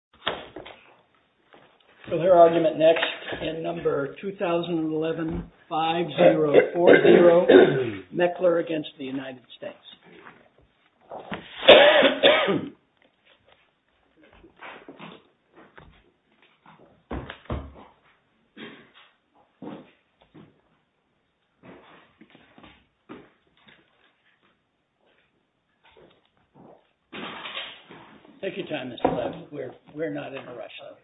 2011, 5-0, 4-0, MECKLER v. United States 2011, 5-0, 4-0, MECKLER v. United States 2011, 5-0, 4-0, MECKLER v. United States 2011, 5-0, 4-0, MECKLER v. United States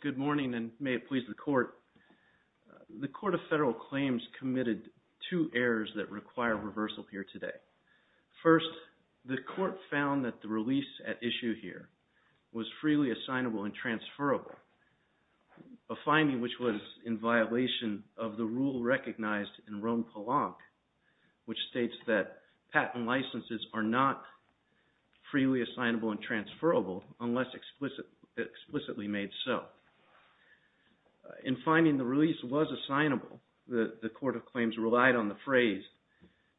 Good morning and may it please the Court. The Court of Federal Claims committed two errors that require reversal here today. First, the Court found that the release at issue here was freely assignable and transferrable, a finding which was in violation of the rule recognized in Rome Polonque, which states that patent licenses are not freely assignable and transferrable unless explicitly made so. In finding the release was assignable, the Court of Claims relied on the phrase,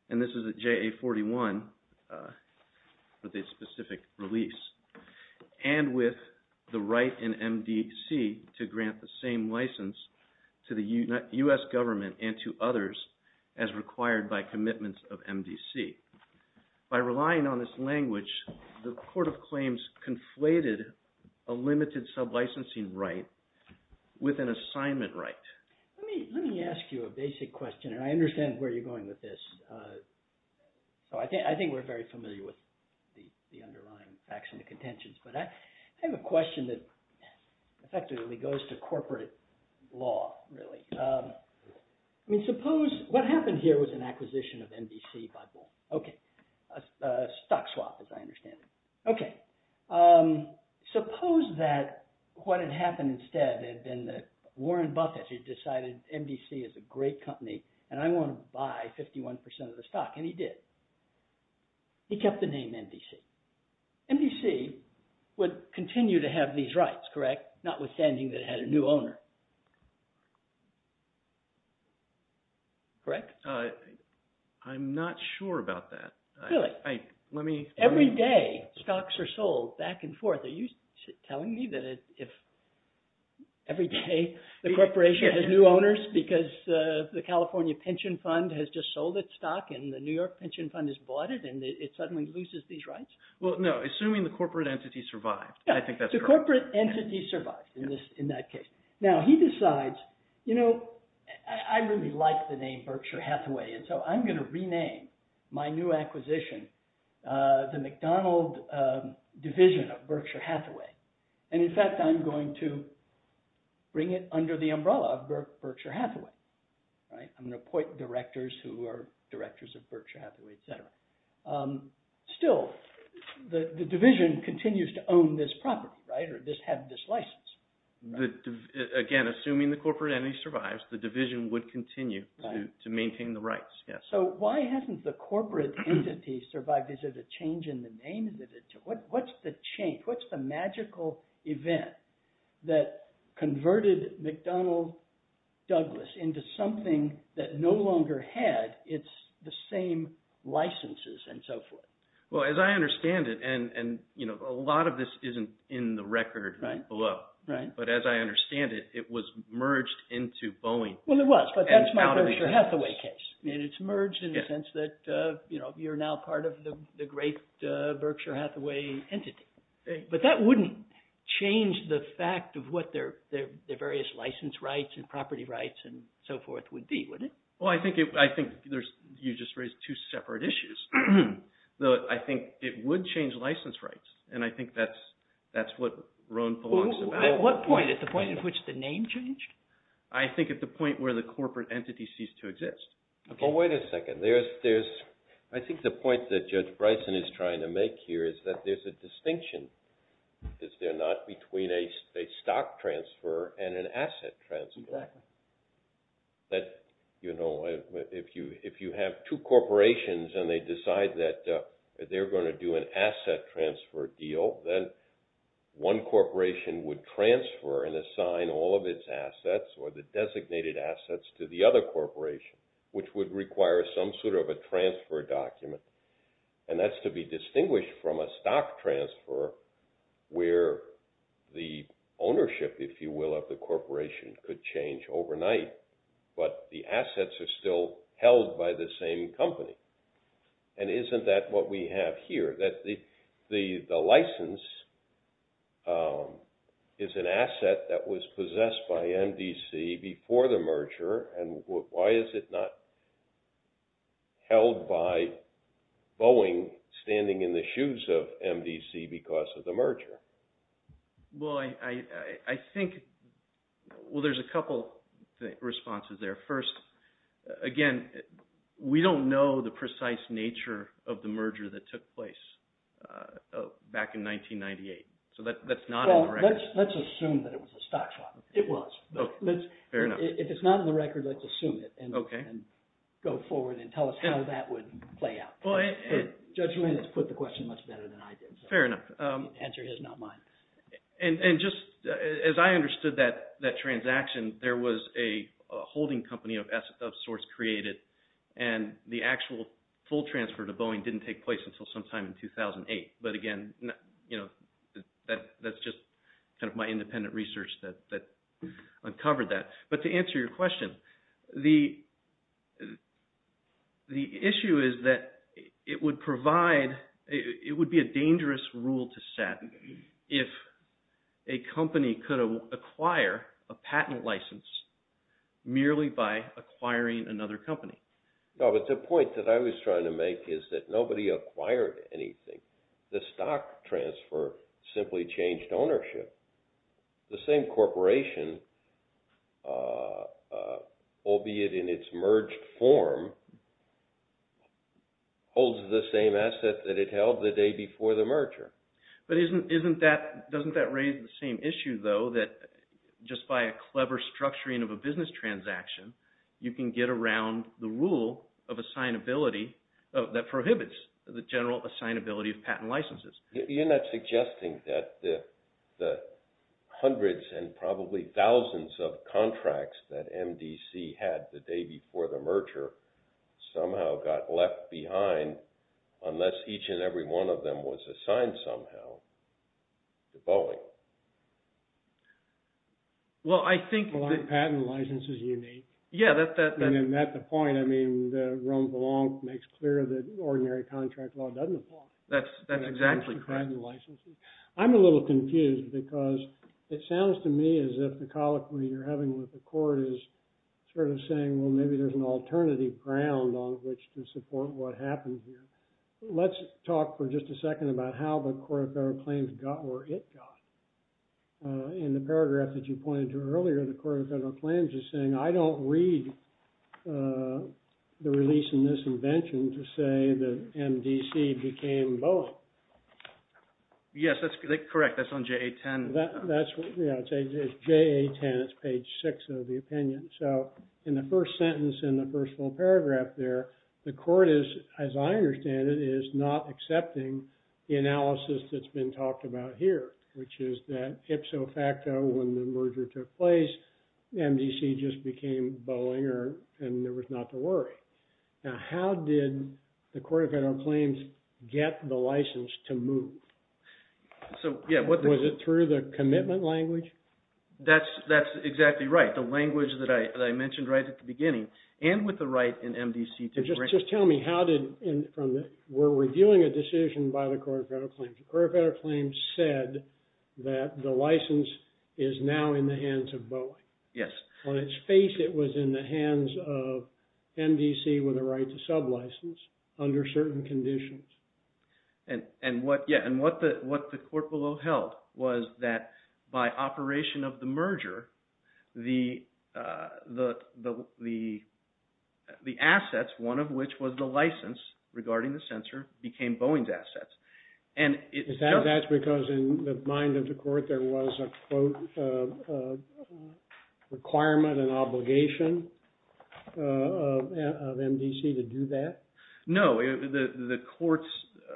and this is at JA 41 for this specific release, and with the right in MDC to grant the same license to the U.S. government and to others as required by commitments of MDC. By relying on this language, the Court of Claims conflated a limited sub-licensing right with an assignment right. Let me ask you a basic question, and I understand where you're going with this. I think we're very familiar with the underlying facts and the contentions, but I have a question that effectively goes to corporate law, really. I mean, suppose what happened here was an acquisition of MDC by Bohm. Okay, a stock swap as I understand it. Okay, suppose that what had happened instead had been that Warren Buffett had decided MDC is a great company and I want to buy 51% of the stock, and he did. He kept the name MDC. MDC would continue to have these rights, correct, notwithstanding that it had a new owner. Correct? I'm not sure about that. Really? Let me... Every day stocks are sold back and forth. Are you telling me that if every day the corporation has new owners because the California pension fund has just sold its stock and the New York pension fund has bought it and it suddenly loses these rights? Well, no. Assuming the corporate entity survived, I think that's correct. Yeah, the corporate entity survived in that case. Now, he decides, you know, I really like the name Berkshire Hathaway, and so I'm going to rename my new acquisition the McDonald Division of Berkshire Hathaway. And in fact, I'm going to bring it under the umbrella of Berkshire Hathaway, right? I'm going to appoint directors who are directors of Berkshire Hathaway, et cetera. Still, the division continues to own this property, right, or have this license. Again, assuming the corporate entity survives, the division would continue to maintain the rights. So, why hasn't the corporate entity survived? Is it a change in the name? What's the change? What's the magical event that converted McDonald Douglas into something that no longer had its same licenses and so forth? Well, as I understand it, and, you know, a lot of this isn't in the record below. Right. But as I understand it, it was merged into Boeing. Well, it was, but that's my Berkshire Hathaway case. And it's merged in the sense that, you know, you're now part of the great Berkshire Hathaway entity. But that wouldn't change the fact of what their various license rights and property rights and so forth would be, would it? Well, I think you just raised two separate issues. I think it would change license rights, and I think that's what Roan belongs to. At what point? At the point at which the name changed? I think at the point where the corporate entity ceased to exist. Well, wait a second. I think the point that Judge Bryson is trying to make here is that there's a distinction. Is there not between a stock transfer and an asset transfer? Exactly. That, you know, if you have two corporations and they decide that they're going to do an asset transfer deal, then one corporation would transfer and assign all of its assets or the designated assets to the other corporation, which would require some sort of a transfer document. And that's to be distinguished from a stock transfer where the ownership, if you will, of the corporation could change overnight, but the assets are still held by the same company. And isn't that what we have here, that the license is an asset that was possessed by MDC before the merger, and why is it not held by Boeing standing in the shoes of MDC because of the merger? Well, I think, well, there's a couple of responses there. First, again, we don't know the precise nature of the merger that took place back in 1998, so that's not in the record. Well, let's assume that it was a stock transfer. It was. Fair enough. If it's not in the record, let's assume it. Okay. And go forward and tell us how that would play out. Judge Winn has put the question much better than I did. Fair enough. The answer is not mine. And just as I understood that transaction, there was a holding company of sorts created, and the actual full transfer to Boeing didn't take place until sometime in 2008. But again, that's just kind of my independent research that uncovered that. But to answer your question, the issue is that it would provide, it would be a dangerous rule to set if a company could acquire a patent license merely by acquiring another company. No, but the point that I was trying to make is that nobody acquired anything. The stock transfer simply changed ownership. The same corporation, albeit in its merged form, holds the same asset that it held the day before the merger. But doesn't that raise the same issue, though, that just by a clever structuring of a business transaction, you can get around the rule of assignability that prohibits the general assignability of patent licenses? You're not suggesting that the hundreds and probably thousands of contracts that MDC had the day before the merger somehow got left behind unless each and every one of them was assigned somehow to Boeing? Well, I think that... The lone patent license is unique. Yeah, that... And at the point, I mean, the Rome Belong makes clear that ordinary contract law doesn't apply. That's exactly correct. I'm a little confused because it sounds to me as if the colloquy you're having with the court is sort of saying, well, maybe there's an alternative ground on which to support what happened here. Let's talk for just a second about how the Court of Federal Claims got where it got. In the paragraph that you pointed to earlier, the Court of Federal Claims is saying, and I don't read the release in this invention to say that MDC became Boeing. Yes, that's correct. That's on JA10. That's... Yeah, it's JA10. It's page six of the opinion. So in the first sentence in the first full paragraph there, the court is, as I understand it, is not accepting the analysis that's been talked about here, which is that ipso facto, when the merger took place, MDC just became Boeing and there was not to worry. Now, how did the Court of Federal Claims get the license to move? So, yeah, what... Was it through the commitment language? That's exactly right. The language that I mentioned right at the beginning and with the right in MDC... Just tell me, how did... Were we doing a decision by the Court of Federal Claims? The Court of Federal Claims said that the license is now in the hands of Boeing. Yes. On its face, it was in the hands of MDC with a right to sublicense under certain conditions. And what... Yeah, and what the court below held was that by operation of the merger, the assets, one of which was the license regarding the sensor, became Boeing's assets. And it... Is that because in the mind of the court there was a, quote, requirement and obligation of MDC to do that? No. The court's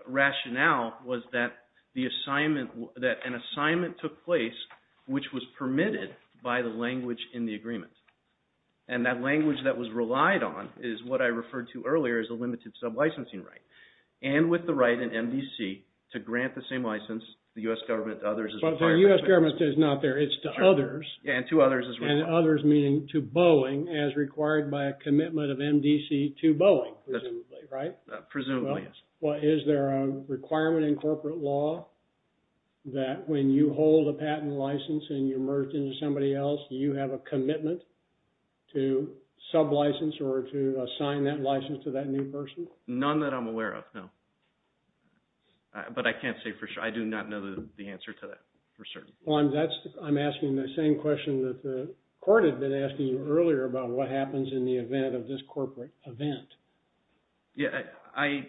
rationale was that the assignment... that an assignment took place which was permitted by the language in the agreement. And that language that was relied on is what I referred to earlier as a limited sublicensing right. And with the right in MDC to grant the same license, the U.S. government to others is required... But the U.S. government is not there. It's to others. Yeah, and to others is required. And others meaning to Boeing as required by a commitment of MDC to Boeing, presumably, right? Presumably, yes. Well, is there a requirement in corporate law that when you hold a patent license and you merge into somebody else, you have a commitment to sublicense or to assign that license to that new person? None that I'm aware of, no. But I can't say for sure. I do not know the answer to that for certain. Well, I'm asking the same question that the court had been asking earlier about what happens in the event of this corporate event. Yeah, I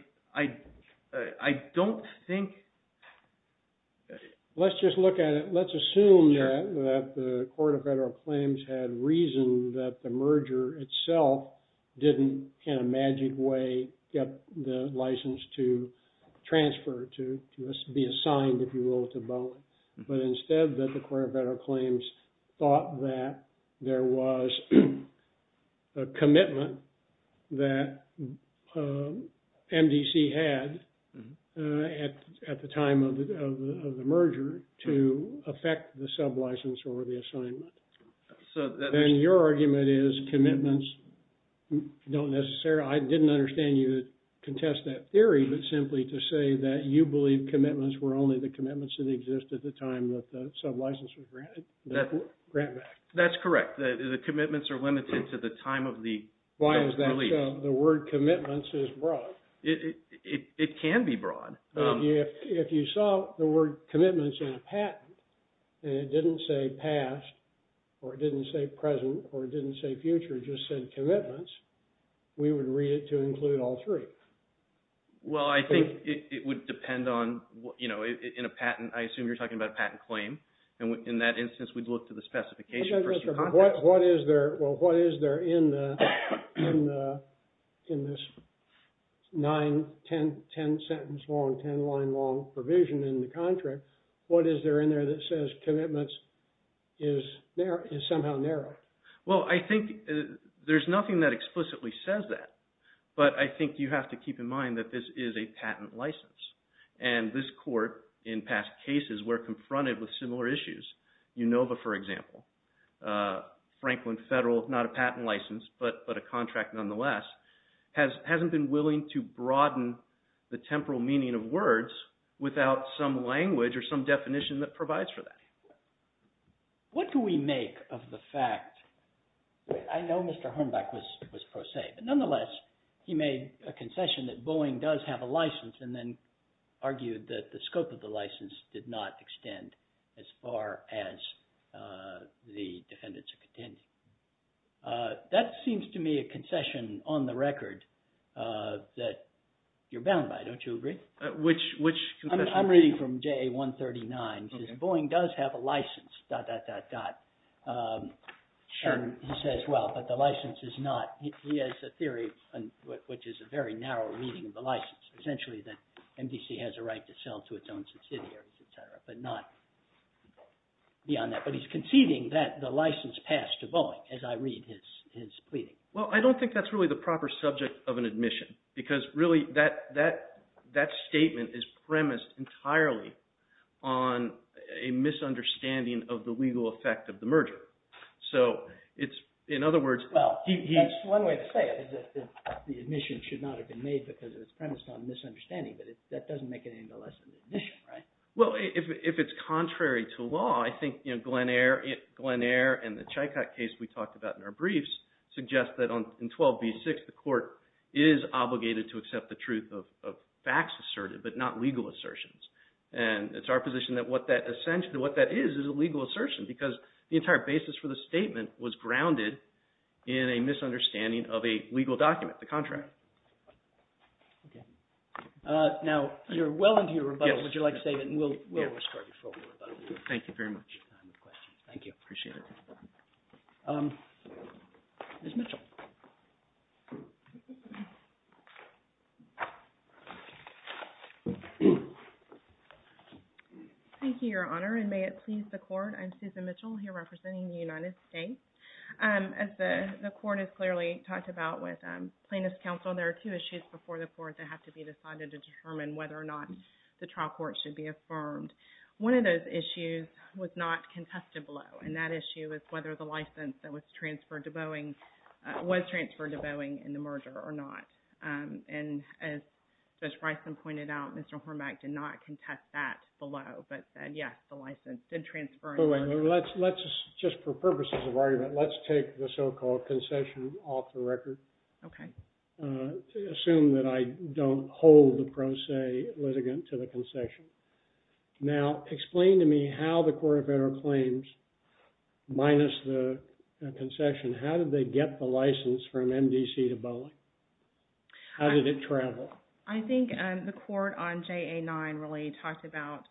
don't think... Let's just look at it. Let's assume that the Court of Federal Claims had reason that the merger itself didn't, in a magic way, get the license to transfer to be assigned, if you will, to Boeing. But instead that the Court of Federal Claims thought that there was a commitment that MDC had at the time of the merger to affect the sublicense or the assignment. And your argument is commitments don't necessarily... I didn't understand you to contest that theory, but simply to say that you believe commitments were only the commitments that exist at the time that the sublicense was granted, the grant back. That's correct. The commitments are limited to the time of the relief. Why is that? The word commitments is broad. It can be broad. If you saw the word commitments in a patent, and it didn't say past, or it didn't say present, or it didn't say future, it just said commitments, we would read it to include all three. Well, I think it would depend on... In a patent, I assume you're talking about a patent claim. In that instance, we'd look to the specification. What is there in this nine, ten-sentence long, ten-line long provision in the contract? What is there in there that says commitments is somehow narrow? Well, I think there's nothing that explicitly says that. But I think you have to keep in mind that this is a patent license. And this court, in past cases, were confronted with similar issues. UNOVA, for example, Franklin Federal, not a patent license, but a contract nonetheless, hasn't been willing to broaden the temporal meaning of words without some language or some definition that provides for that. What do we make of the fact? I know Mr. Hornback was pro se, but nonetheless, he made a concession that Boeing does have a license and then argued that the scope of the license did not extend as far as the defendants of contention. That seems to me a concession on the record that you're bound by. Don't you agree? Which concession? I'm reading from JA 139. It says Boeing does have a license, dot, dot, dot, dot. Sure. He says, well, but the license is not. He has a theory, which is a very narrow reading of the license, essentially that NBC has a right to sell to its own subsidiaries, et cetera, but not beyond that. But he's conceding that the license passed to Boeing, as I read his pleading. Well, I don't think that's really the proper subject of an admission because really that statement is premised entirely on a misunderstanding of the legal effect of the merger. Well, that's one way to say it. The admission should not have been made because of its premise on misunderstanding, but that doesn't make it any less of an admission, right? Well, if it's contrary to law, I think Glen Eyre and the Chicot case we talked about in our briefs suggest that in 12b-6, the court is obligated to accept the truth of facts asserted, but not legal assertions. And it's our position that what that is is a legal assertion because the entire basis for the statement was grounded in a misunderstanding of a legal document, the contract. Okay. Now, you're well into your rebuttal. Would you like to say that and we'll start your formal rebuttal. Thank you very much. Thank you. Appreciate it. Ms. Mitchell. Thank you, Your Honor, and may it please the court. I'm Susan Mitchell here representing the United States. As the court has clearly talked about with plaintiff's counsel, there are two issues before the court that have to be decided to determine whether or not the trial court should be affirmed. And one of those issues was not contested below, and that issue is whether the license that was transferred to Boeing was transferred to Boeing in the merger or not. And as Judge Bryson pointed out, Mr. Hormack did not contest that below, but said, yes, the license did transfer in the merger. Just for purposes of argument, let's take the so-called concession off the record. Okay. Assume that I don't hold the pro se litigant to the concession. Now, explain to me how the Court of Federal Claims minus the concession, how did they get the license from MDC to Boeing? How did it travel? I think the court on JA-9 really talked about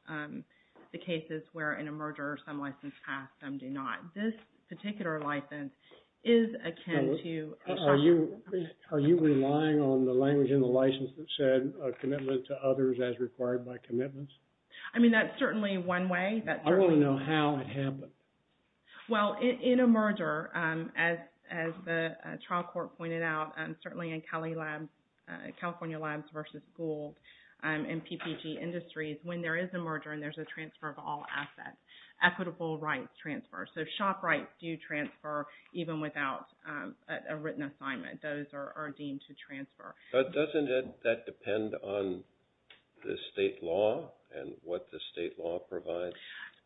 the cases where in a merger some license passed, some do not. This particular license is akin to a concession. Are you relying on the language in the license that said a commitment to others as required by commitments? I mean, that's certainly one way. I want to know how it happened. Well, in a merger, as the trial court pointed out, and certainly in California Labs versus Gould and PPG Industries, when there is a merger and there's a transfer of all assets, equitable rights transfer. So shop rights do transfer even without a written assignment. Those are deemed to transfer. But doesn't that depend on the state law and what the state law provides?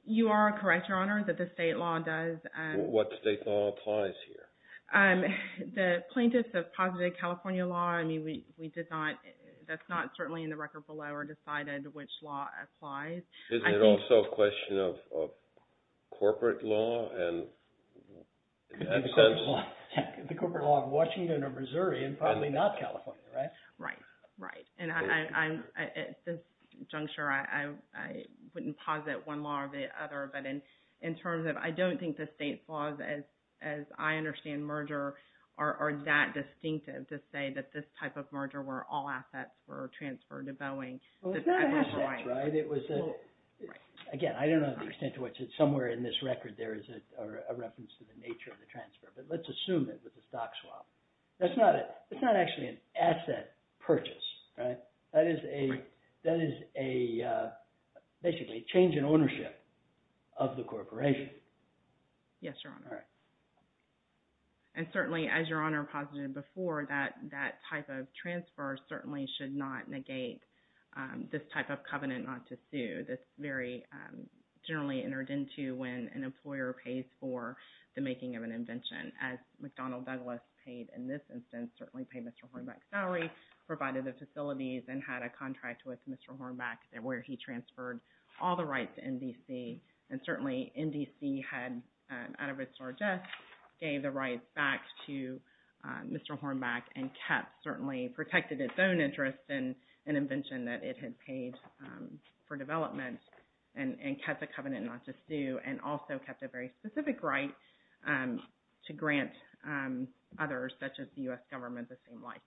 You are correct, Your Honor, that the state law does. What state law applies here? The plaintiffs have posited California law. I mean, that's not certainly in the record below or decided which law applies. Isn't it also a question of corporate law? The corporate law of Washington or Missouri and probably not California, right? Right, right. And at this juncture, I wouldn't posit one law or the other. But in terms of I don't think the state's laws, as I understand merger, are that distinctive to say that this type of merger where all assets were transferred to Boeing. Well, it's not assets, right? Again, I don't know the extent to which somewhere in this record there is a reference to the nature of the transfer. But let's assume it was a stock swap. That's not actually an asset purchase, right? That is basically a change in ownership of the corporation. Yes, Your Honor. And certainly, as Your Honor posited before, that type of transfer certainly should not negate this type of covenant not to sue. That's very generally entered into when an employer pays for the making of an invention. As McDonnell Douglas paid in this instance, certainly paid Mr. Hornback's salary, provided the facilities, and had a contract with Mr. Hornback where he transferred all the rights to NDC. And certainly, NDC had, out of its largest, gave the rights back to Mr. Hornback and kept, certainly protected its own interest in an invention that it had paid for development, and kept the covenant not to sue, and also kept a very specific right to grant others, such as the U.S. government, the same license.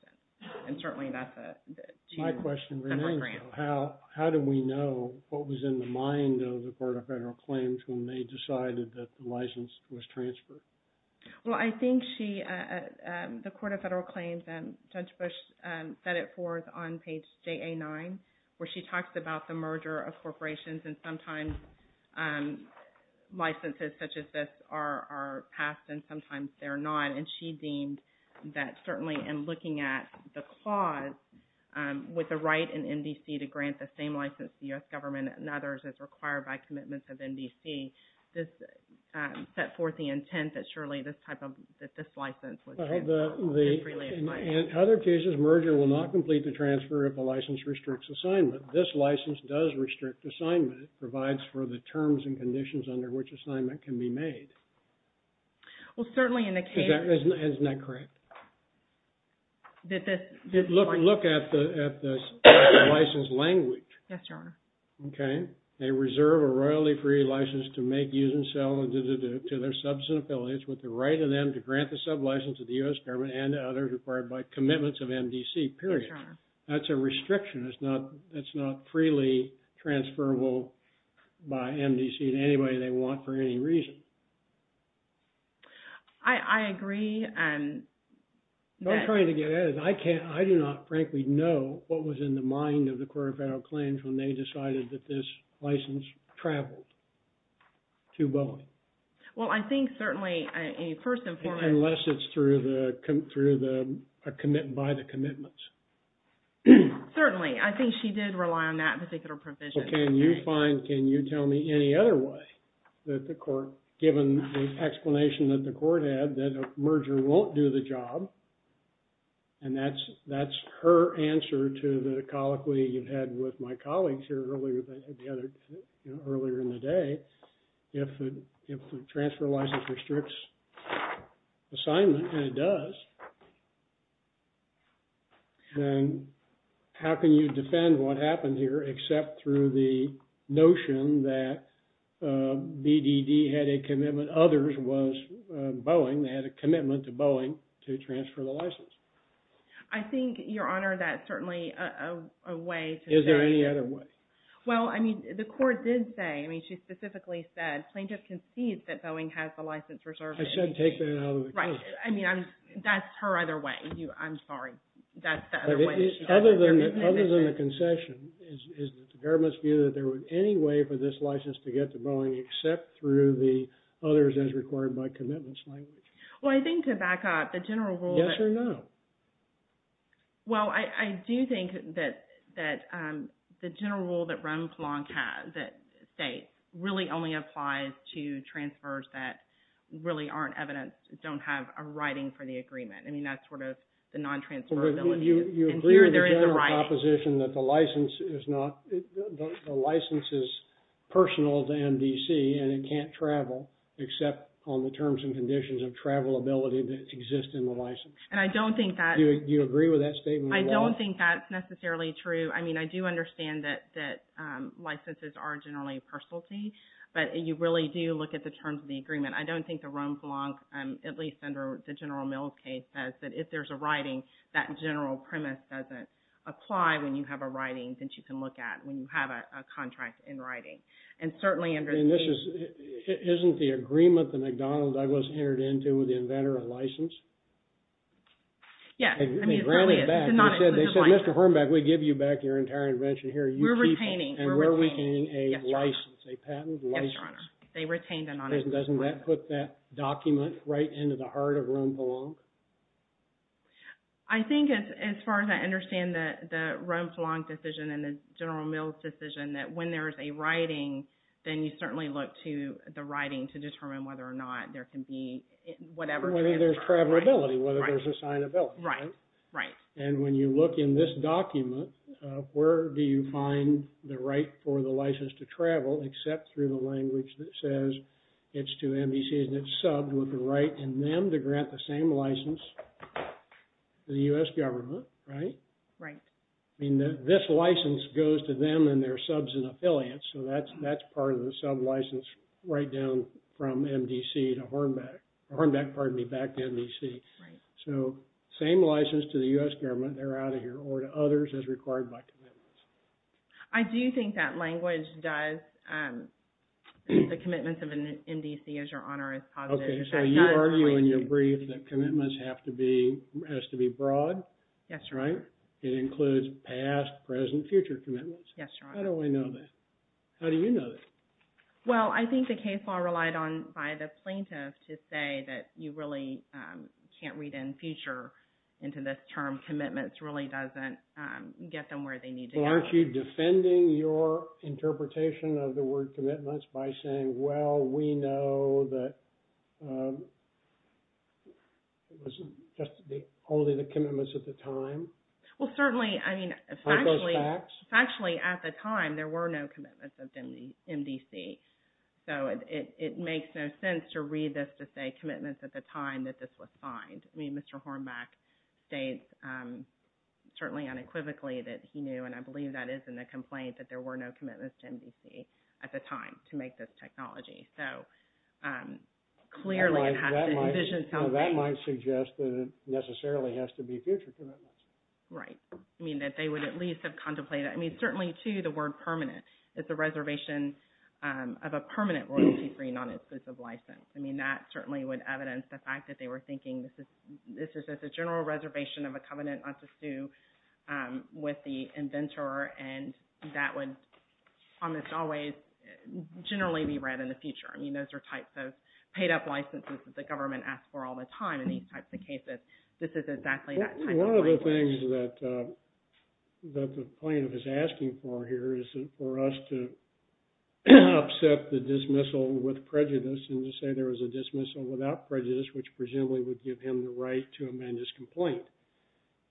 My question remains, how do we know what was in the mind of the Court of Federal Claims when they decided that the license was transferred? Well, I think the Court of Federal Claims, Judge Bush set it forth on page JA-9, where she talks about the merger of corporations, and sometimes licenses such as this are passed and sometimes they're not. And she deemed that certainly, in looking at the clause with the right in NDC to grant the same license to the U.S. government and others as required by commitments of NDC, this set forth the intent that surely this type of, that this license was transferred. In other cases, merger will not complete the transfer if a license restricts assignment. This license does restrict assignment. It provides for the terms and conditions under which assignment can be made. Well, certainly in the case... Isn't that correct? Look at the license language. Yes, Your Honor. Okay. They reserve a royalty-free license to make, use, and sell to their subs and affiliates with the right of them to grant the sub license to the U.S. government and others required by commitments of NDC, period. Yes, Your Honor. That's a restriction. It's not freely transferable by NDC to anybody they want for any reason. I agree. I'm trying to get at it. I can't, I do not frankly know what was in the mind of the Court of Federal Claims when they decided that this license traveled to Boeing. Well, I think certainly a person for... Unless it's through the, by the commitments. Certainly. I think she did rely on that particular provision. Well, can you find, can you tell me any other way that the court, given the explanation that the court had, that a merger won't do the job? And that's her answer to the colloquy you've had with my colleagues here earlier in the day. If the transfer license restricts assignment, and it does, then how can you defend what happened here except through the notion that BDD had a commitment, others was Boeing, they had a commitment to Boeing to transfer the license. I think, Your Honor, that's certainly a way to say... Is there any other way? Well, I mean, the court did say, I mean, she specifically said, plaintiff concedes that Boeing has the license reserved. I said take that out of the case. Right, I mean, that's her other way. I'm sorry. That's the other way. Other than the concession, is the government's view that there was any way for this license to get to Boeing except through the others as required by commitments language? Well, I think to back up the general rule... Yes or no? Well, I do think that the general rule that Ron Plonk has, that states, really only applies to transfers that really aren't evidenced, don't have a writing for the agreement. I mean, that's sort of the non-transferability. You agree with the general proposition that the license is not... The license is personal to MDC, and it can't travel except on the terms and conditions of travelability that exist in the license. And I don't think that... Do you agree with that statement? I don't think that's necessarily true. I mean, I do understand that licenses are generally personal to you, but you really do look at the terms of the agreement. I don't think that Ron Plonk, at least under the General Mills case, says that if there's a writing, that general premise doesn't apply when you have a writing that you can look at when you have a contract in writing. And this isn't the agreement that McDonnell Douglas entered into with the inventor of the license? Yes, I mean, it really is. They said, Mr. Hornback, we give you back your entire invention here. We're retaining. And we're retaining a license, a patent license. Yes, Your Honor. They retained a non-exclusive license. Doesn't that put that document right into the heart of Ron Plonk? I think as far as I understand the Ron Plonk decision and the General Mills decision, that when there's a writing, then you certainly look to the writing to determine whether or not there can be whatever... Whether there's travelability, whether there's assignability. Right, right. And when you look in this document, where do you find the right for the license to travel except through the language that says it's to MDC and it's subbed with the right in them to grant the same license to the U.S. government, right? Right. I mean, this license goes to them and their subs and affiliates. So that's part of the sub license right down from MDC to Hornback. Hornback, pardon me, back to MDC. Right. So same license to the U.S. government. They're out of here. Or to others as required by commitments. I do think that language does, the commitments of an MDC, Your Honor, is positive. Okay, so you argue in your brief that commitments have to be, has to be broad. Yes, Your Honor. That's right. It includes past, present, future commitments. Yes, Your Honor. How do I know that? How do you know that? Well, I think the case law relied on by the plaintiff to say that you really can't read in future into this term. Commitments really doesn't get them where they need to go. Aren't you defending your interpretation of the word commitments by saying, well, we know that it was just only the commitments at the time? Well, certainly. Aren't those facts? Well, at the time, there were no commitments of MDC. So it makes no sense to read this to say commitments at the time that this was signed. I mean, Mr. Hornback states certainly unequivocally that he knew, and I believe that is in the complaint, that there were no commitments to MDC at the time to make this technology. So clearly it has to envision something. That might suggest that it necessarily has to be future commitments. Right. I mean, that they would at least have contemplated. I mean, certainly, too, the word permanent. It's a reservation of a permanent royalty-free, non-exclusive license. I mean, that certainly would evidence the fact that they were thinking this is just a general reservation of a covenant not to sue with the inventor. And that would almost always generally be read in the future. I mean, those are types of paid-up licenses that the government asks for all the time in these types of cases. This is exactly that type of license. One of the things that the plaintiff is asking for here is for us to upset the dismissal with prejudice and to say there was a dismissal without prejudice, which presumably would give him the right to amend his complaint.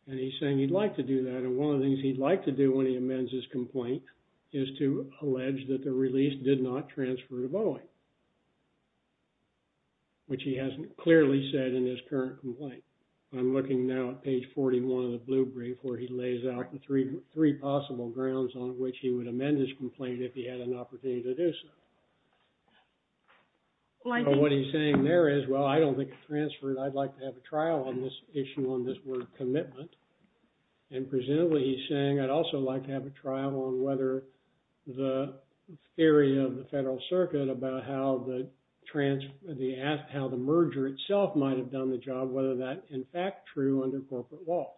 And he's saying he'd like to do that. And one of the things he'd like to do when he amends his complaint is to allege that the release did not transfer to Boeing, which he hasn't clearly said in his current complaint. I'm looking now at page 41 of the blue brief where he lays out the three possible grounds on which he would amend his complaint if he had an opportunity to do so. But what he's saying there is, well, I don't think it transferred. I'd like to have a trial on this issue on this word commitment. And presumably he's saying, I'd also like to have a trial on whether the theory of the Federal Circuit about how the merger itself might have done the job, whether that's, in fact, true under corporate law.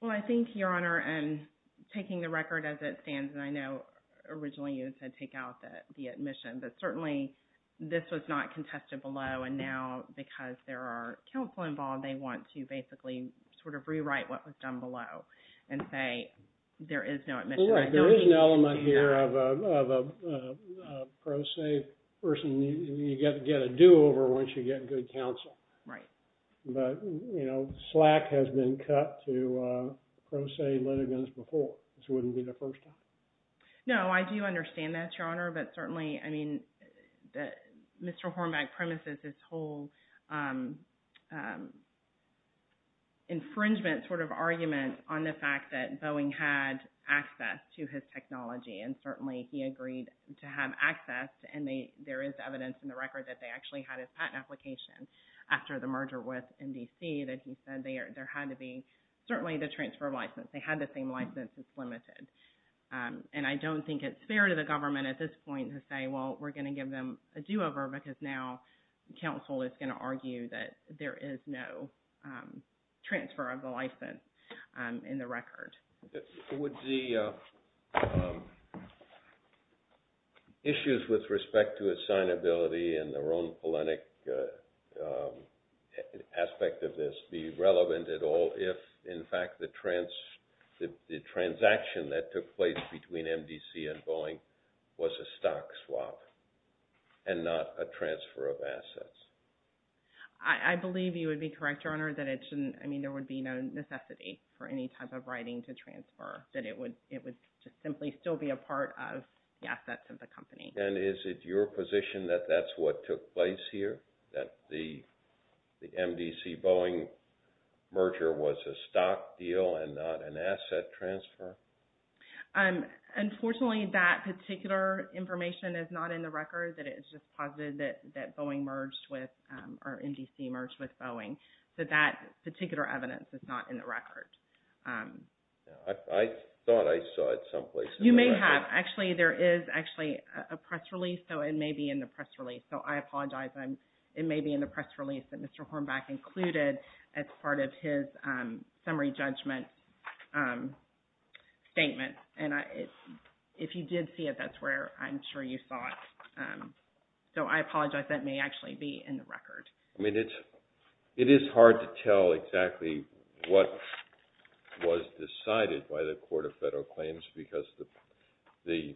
Well, I think, Your Honor, and taking the record as it stands, and I know originally you said take out the admission, but certainly this was not contested below. And now because there are counsel involved, they want to basically sort of rewrite what was done below and say there is no admission. There is an element here of a pro se person. You get to get a do over once you get good counsel. Right. But, you know, slack has been cut to pro se litigants before. This wouldn't be the first time. No, I do understand that, Your Honor. But certainly, I mean, Mr. Hornback premises this whole infringement sort of argument on the fact that Boeing had access to his technology. And certainly he agreed to have access. And there is evidence in the record that they actually had his patent application after the merger with NDC that he said there had to be certainly the transfer of license. They had the same license. It's limited. And I don't think it's fair to the government at this point to say, well, we're going to give them a do over because now counsel is going to argue that there is no transfer of the license in the record. Would the issues with respect to assignability and their own polemic aspect of this be relevant at all if, in fact, the transaction that took place between MDC and Boeing was a stock swap and not a transfer of assets? I believe you would be correct, Your Honor, that it shouldn't – I mean, there would be no necessity for any type of writing to transfer, that it would simply still be a part of the assets of the company. And is it your position that that's what took place here, that the MDC-Boeing merger was a stock deal and not an asset transfer? Unfortunately, that particular information is not in the record, that it's just posited that Boeing merged with – or MDC merged with Boeing. So that particular evidence is not in the record. I thought I saw it someplace in the record. You may have. Actually, there is actually a press release, so it may be in the press release. It may be in the press release that Mr. Hornback included as part of his summary judgment statement. And if you did see it, that's where I'm sure you saw it. So I apologize. I mean, it is hard to tell exactly what was decided by the Court of Federal Claims because the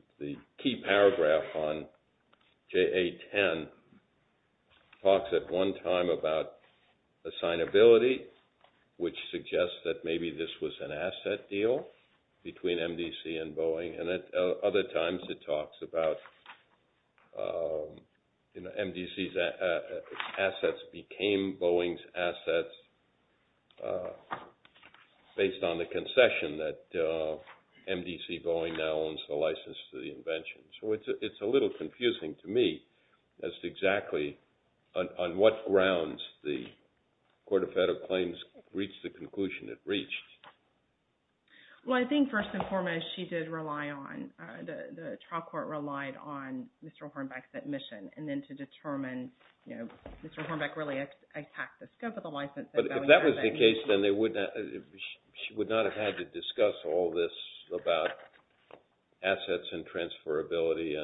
key paragraph on JA-10 talks at one time about assignability, which suggests that maybe this was an asset deal between MDC and Boeing. And at other times, it talks about MDC's assets became Boeing's assets based on the concession that MDC-Boeing now owns the license to the invention. So it's a little confusing to me as to exactly on what grounds the Court of Federal Claims reached the conclusion it reached. Well, I think first and foremost, she did rely on – the trial court relied on Mr. Hornback's admission and then to determine, you know, did Mr. Hornback really attack the scope of the license that Boeing had? But if that was the case, then she would not have had to discuss all this about assets and transferability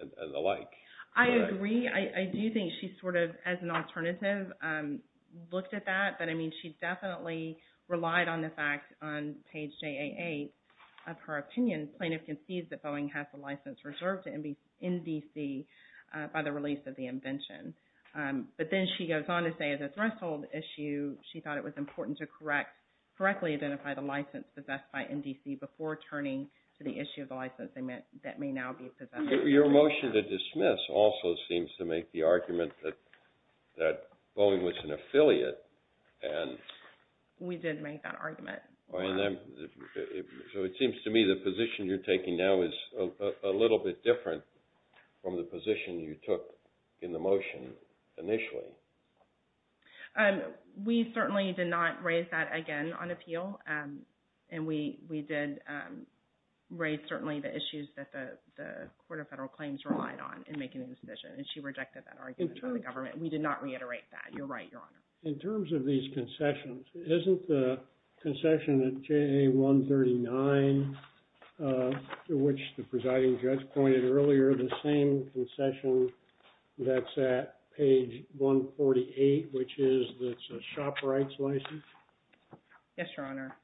and the like. I agree. I do think she sort of, as an alternative, looked at that. But, I mean, she definitely relied on the fact on page JA-8 of her opinion. Plaintiff concedes that Boeing has the license reserved to MDC by the release of the invention. But then she goes on to say as a threshold issue, she thought it was important to correctly identify the license possessed by MDC before turning to the issue of the license that may now be possessed. Your motion to dismiss also seems to make the argument that Boeing was an affiliate. We did make that argument. So it seems to me the position you're taking now is a little bit different from the position you took in the motion initially. We certainly did not raise that again on appeal. And we did raise certainly the issues that the Court of Federal Claims relied on in making the decision. And she rejected that argument by the government. We did not reiterate that. You're right, Your Honor. In terms of these concessions, isn't the concession at JA-139, which the presiding judge pointed earlier, the same concession that's at page 148, which is the shop rights license? Yes, Your Honor.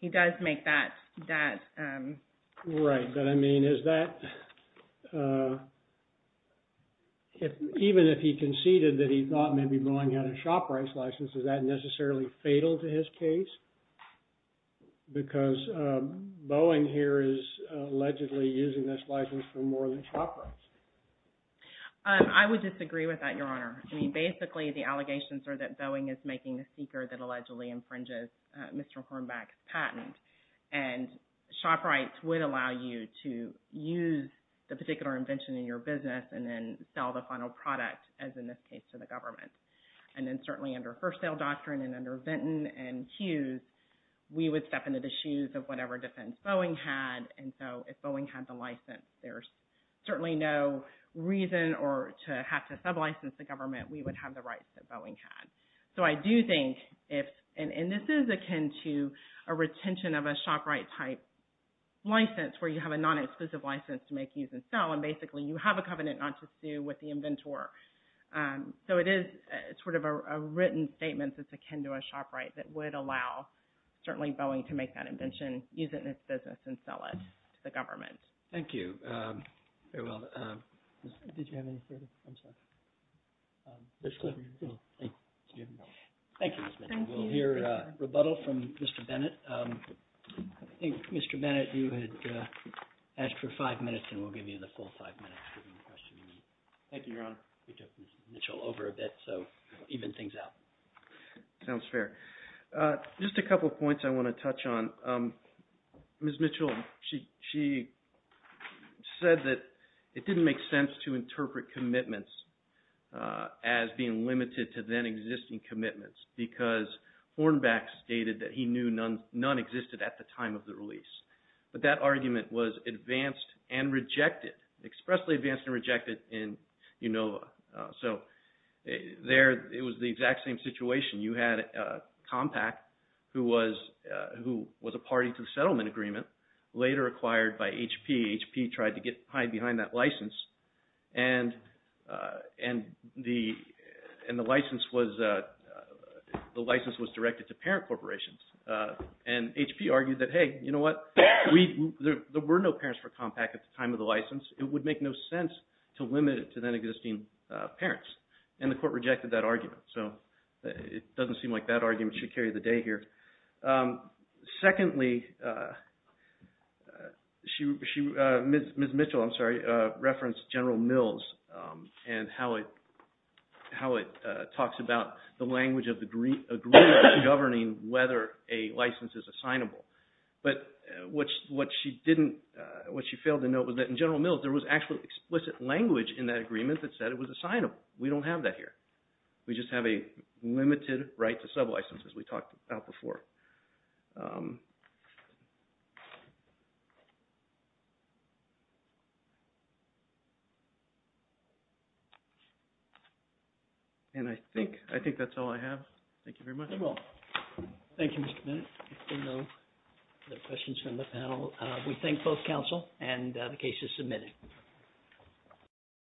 He does make that. Right. But, I mean, is that – even if he conceded that he thought maybe Boeing had a shop rights license, is that necessarily fatal to his case? Because Boeing here is allegedly using this license for more than shop rights. I would disagree with that, Your Honor. I mean, basically the allegations are that Boeing is making a seeker that allegedly infringes Mr. Hornback's patent. And shop rights would allow you to use the particular invention in your business and then sell the final product, as in this case, to the government. And then certainly under first sale doctrine and under Vinton and Hughes, we would step into the shoes of whatever defense Boeing had. And so if Boeing had the license, there's certainly no reason to have to sub-license the government. We would have the rights that Boeing had. So I do think if – and this is akin to a retention of a shop right type license where you have a non-exclusive license to make, use, and sell. And basically you have a covenant not to sue with the inventor. So it is sort of a written statement that's akin to a shop right that would allow certainly Boeing to make that invention, use it in its business, and sell it to the government. Thank you. Did you have any further? I'm sorry. Thank you, Ms. Mitchell. We'll hear rebuttal from Mr. Bennett. I think Mr. Bennett, you had asked for five minutes, and we'll give you the full five minutes. Thank you, Your Honor. We took Ms. Mitchell over a bit, so we'll even things out. Sounds fair. Just a couple points I want to touch on. Ms. Mitchell, she said that it didn't make sense to interpret commitments as being limited to then existing commitments because Hornback stated that he knew none existed at the time of the release. But that argument was advanced and rejected, expressly advanced and rejected in UNOVA. So there it was the exact same situation. You had Compaq, who was a party to the settlement agreement, later acquired by HP. HP tried to hide behind that license, and the license was directed to parent corporations. And HP argued that, hey, you know what? There were no parents for Compaq at the time of the license. It would make no sense to limit it to then existing parents, and the court rejected that argument. So it doesn't seem like that argument should carry the day here. Secondly, Ms. Mitchell referenced General Mills and how it talks about the language of the agreement governing whether a license is assignable. But what she failed to note was that in General Mills there was actually explicit language in that agreement that said it was assignable. We don't have that here. We just have a limited right to sublicense, as we talked about before. And I think that's all I have. Thank you very much. Thank you, Mr. Bennett. If there are no other questions from the panel, we thank both counsel and the cases submitted.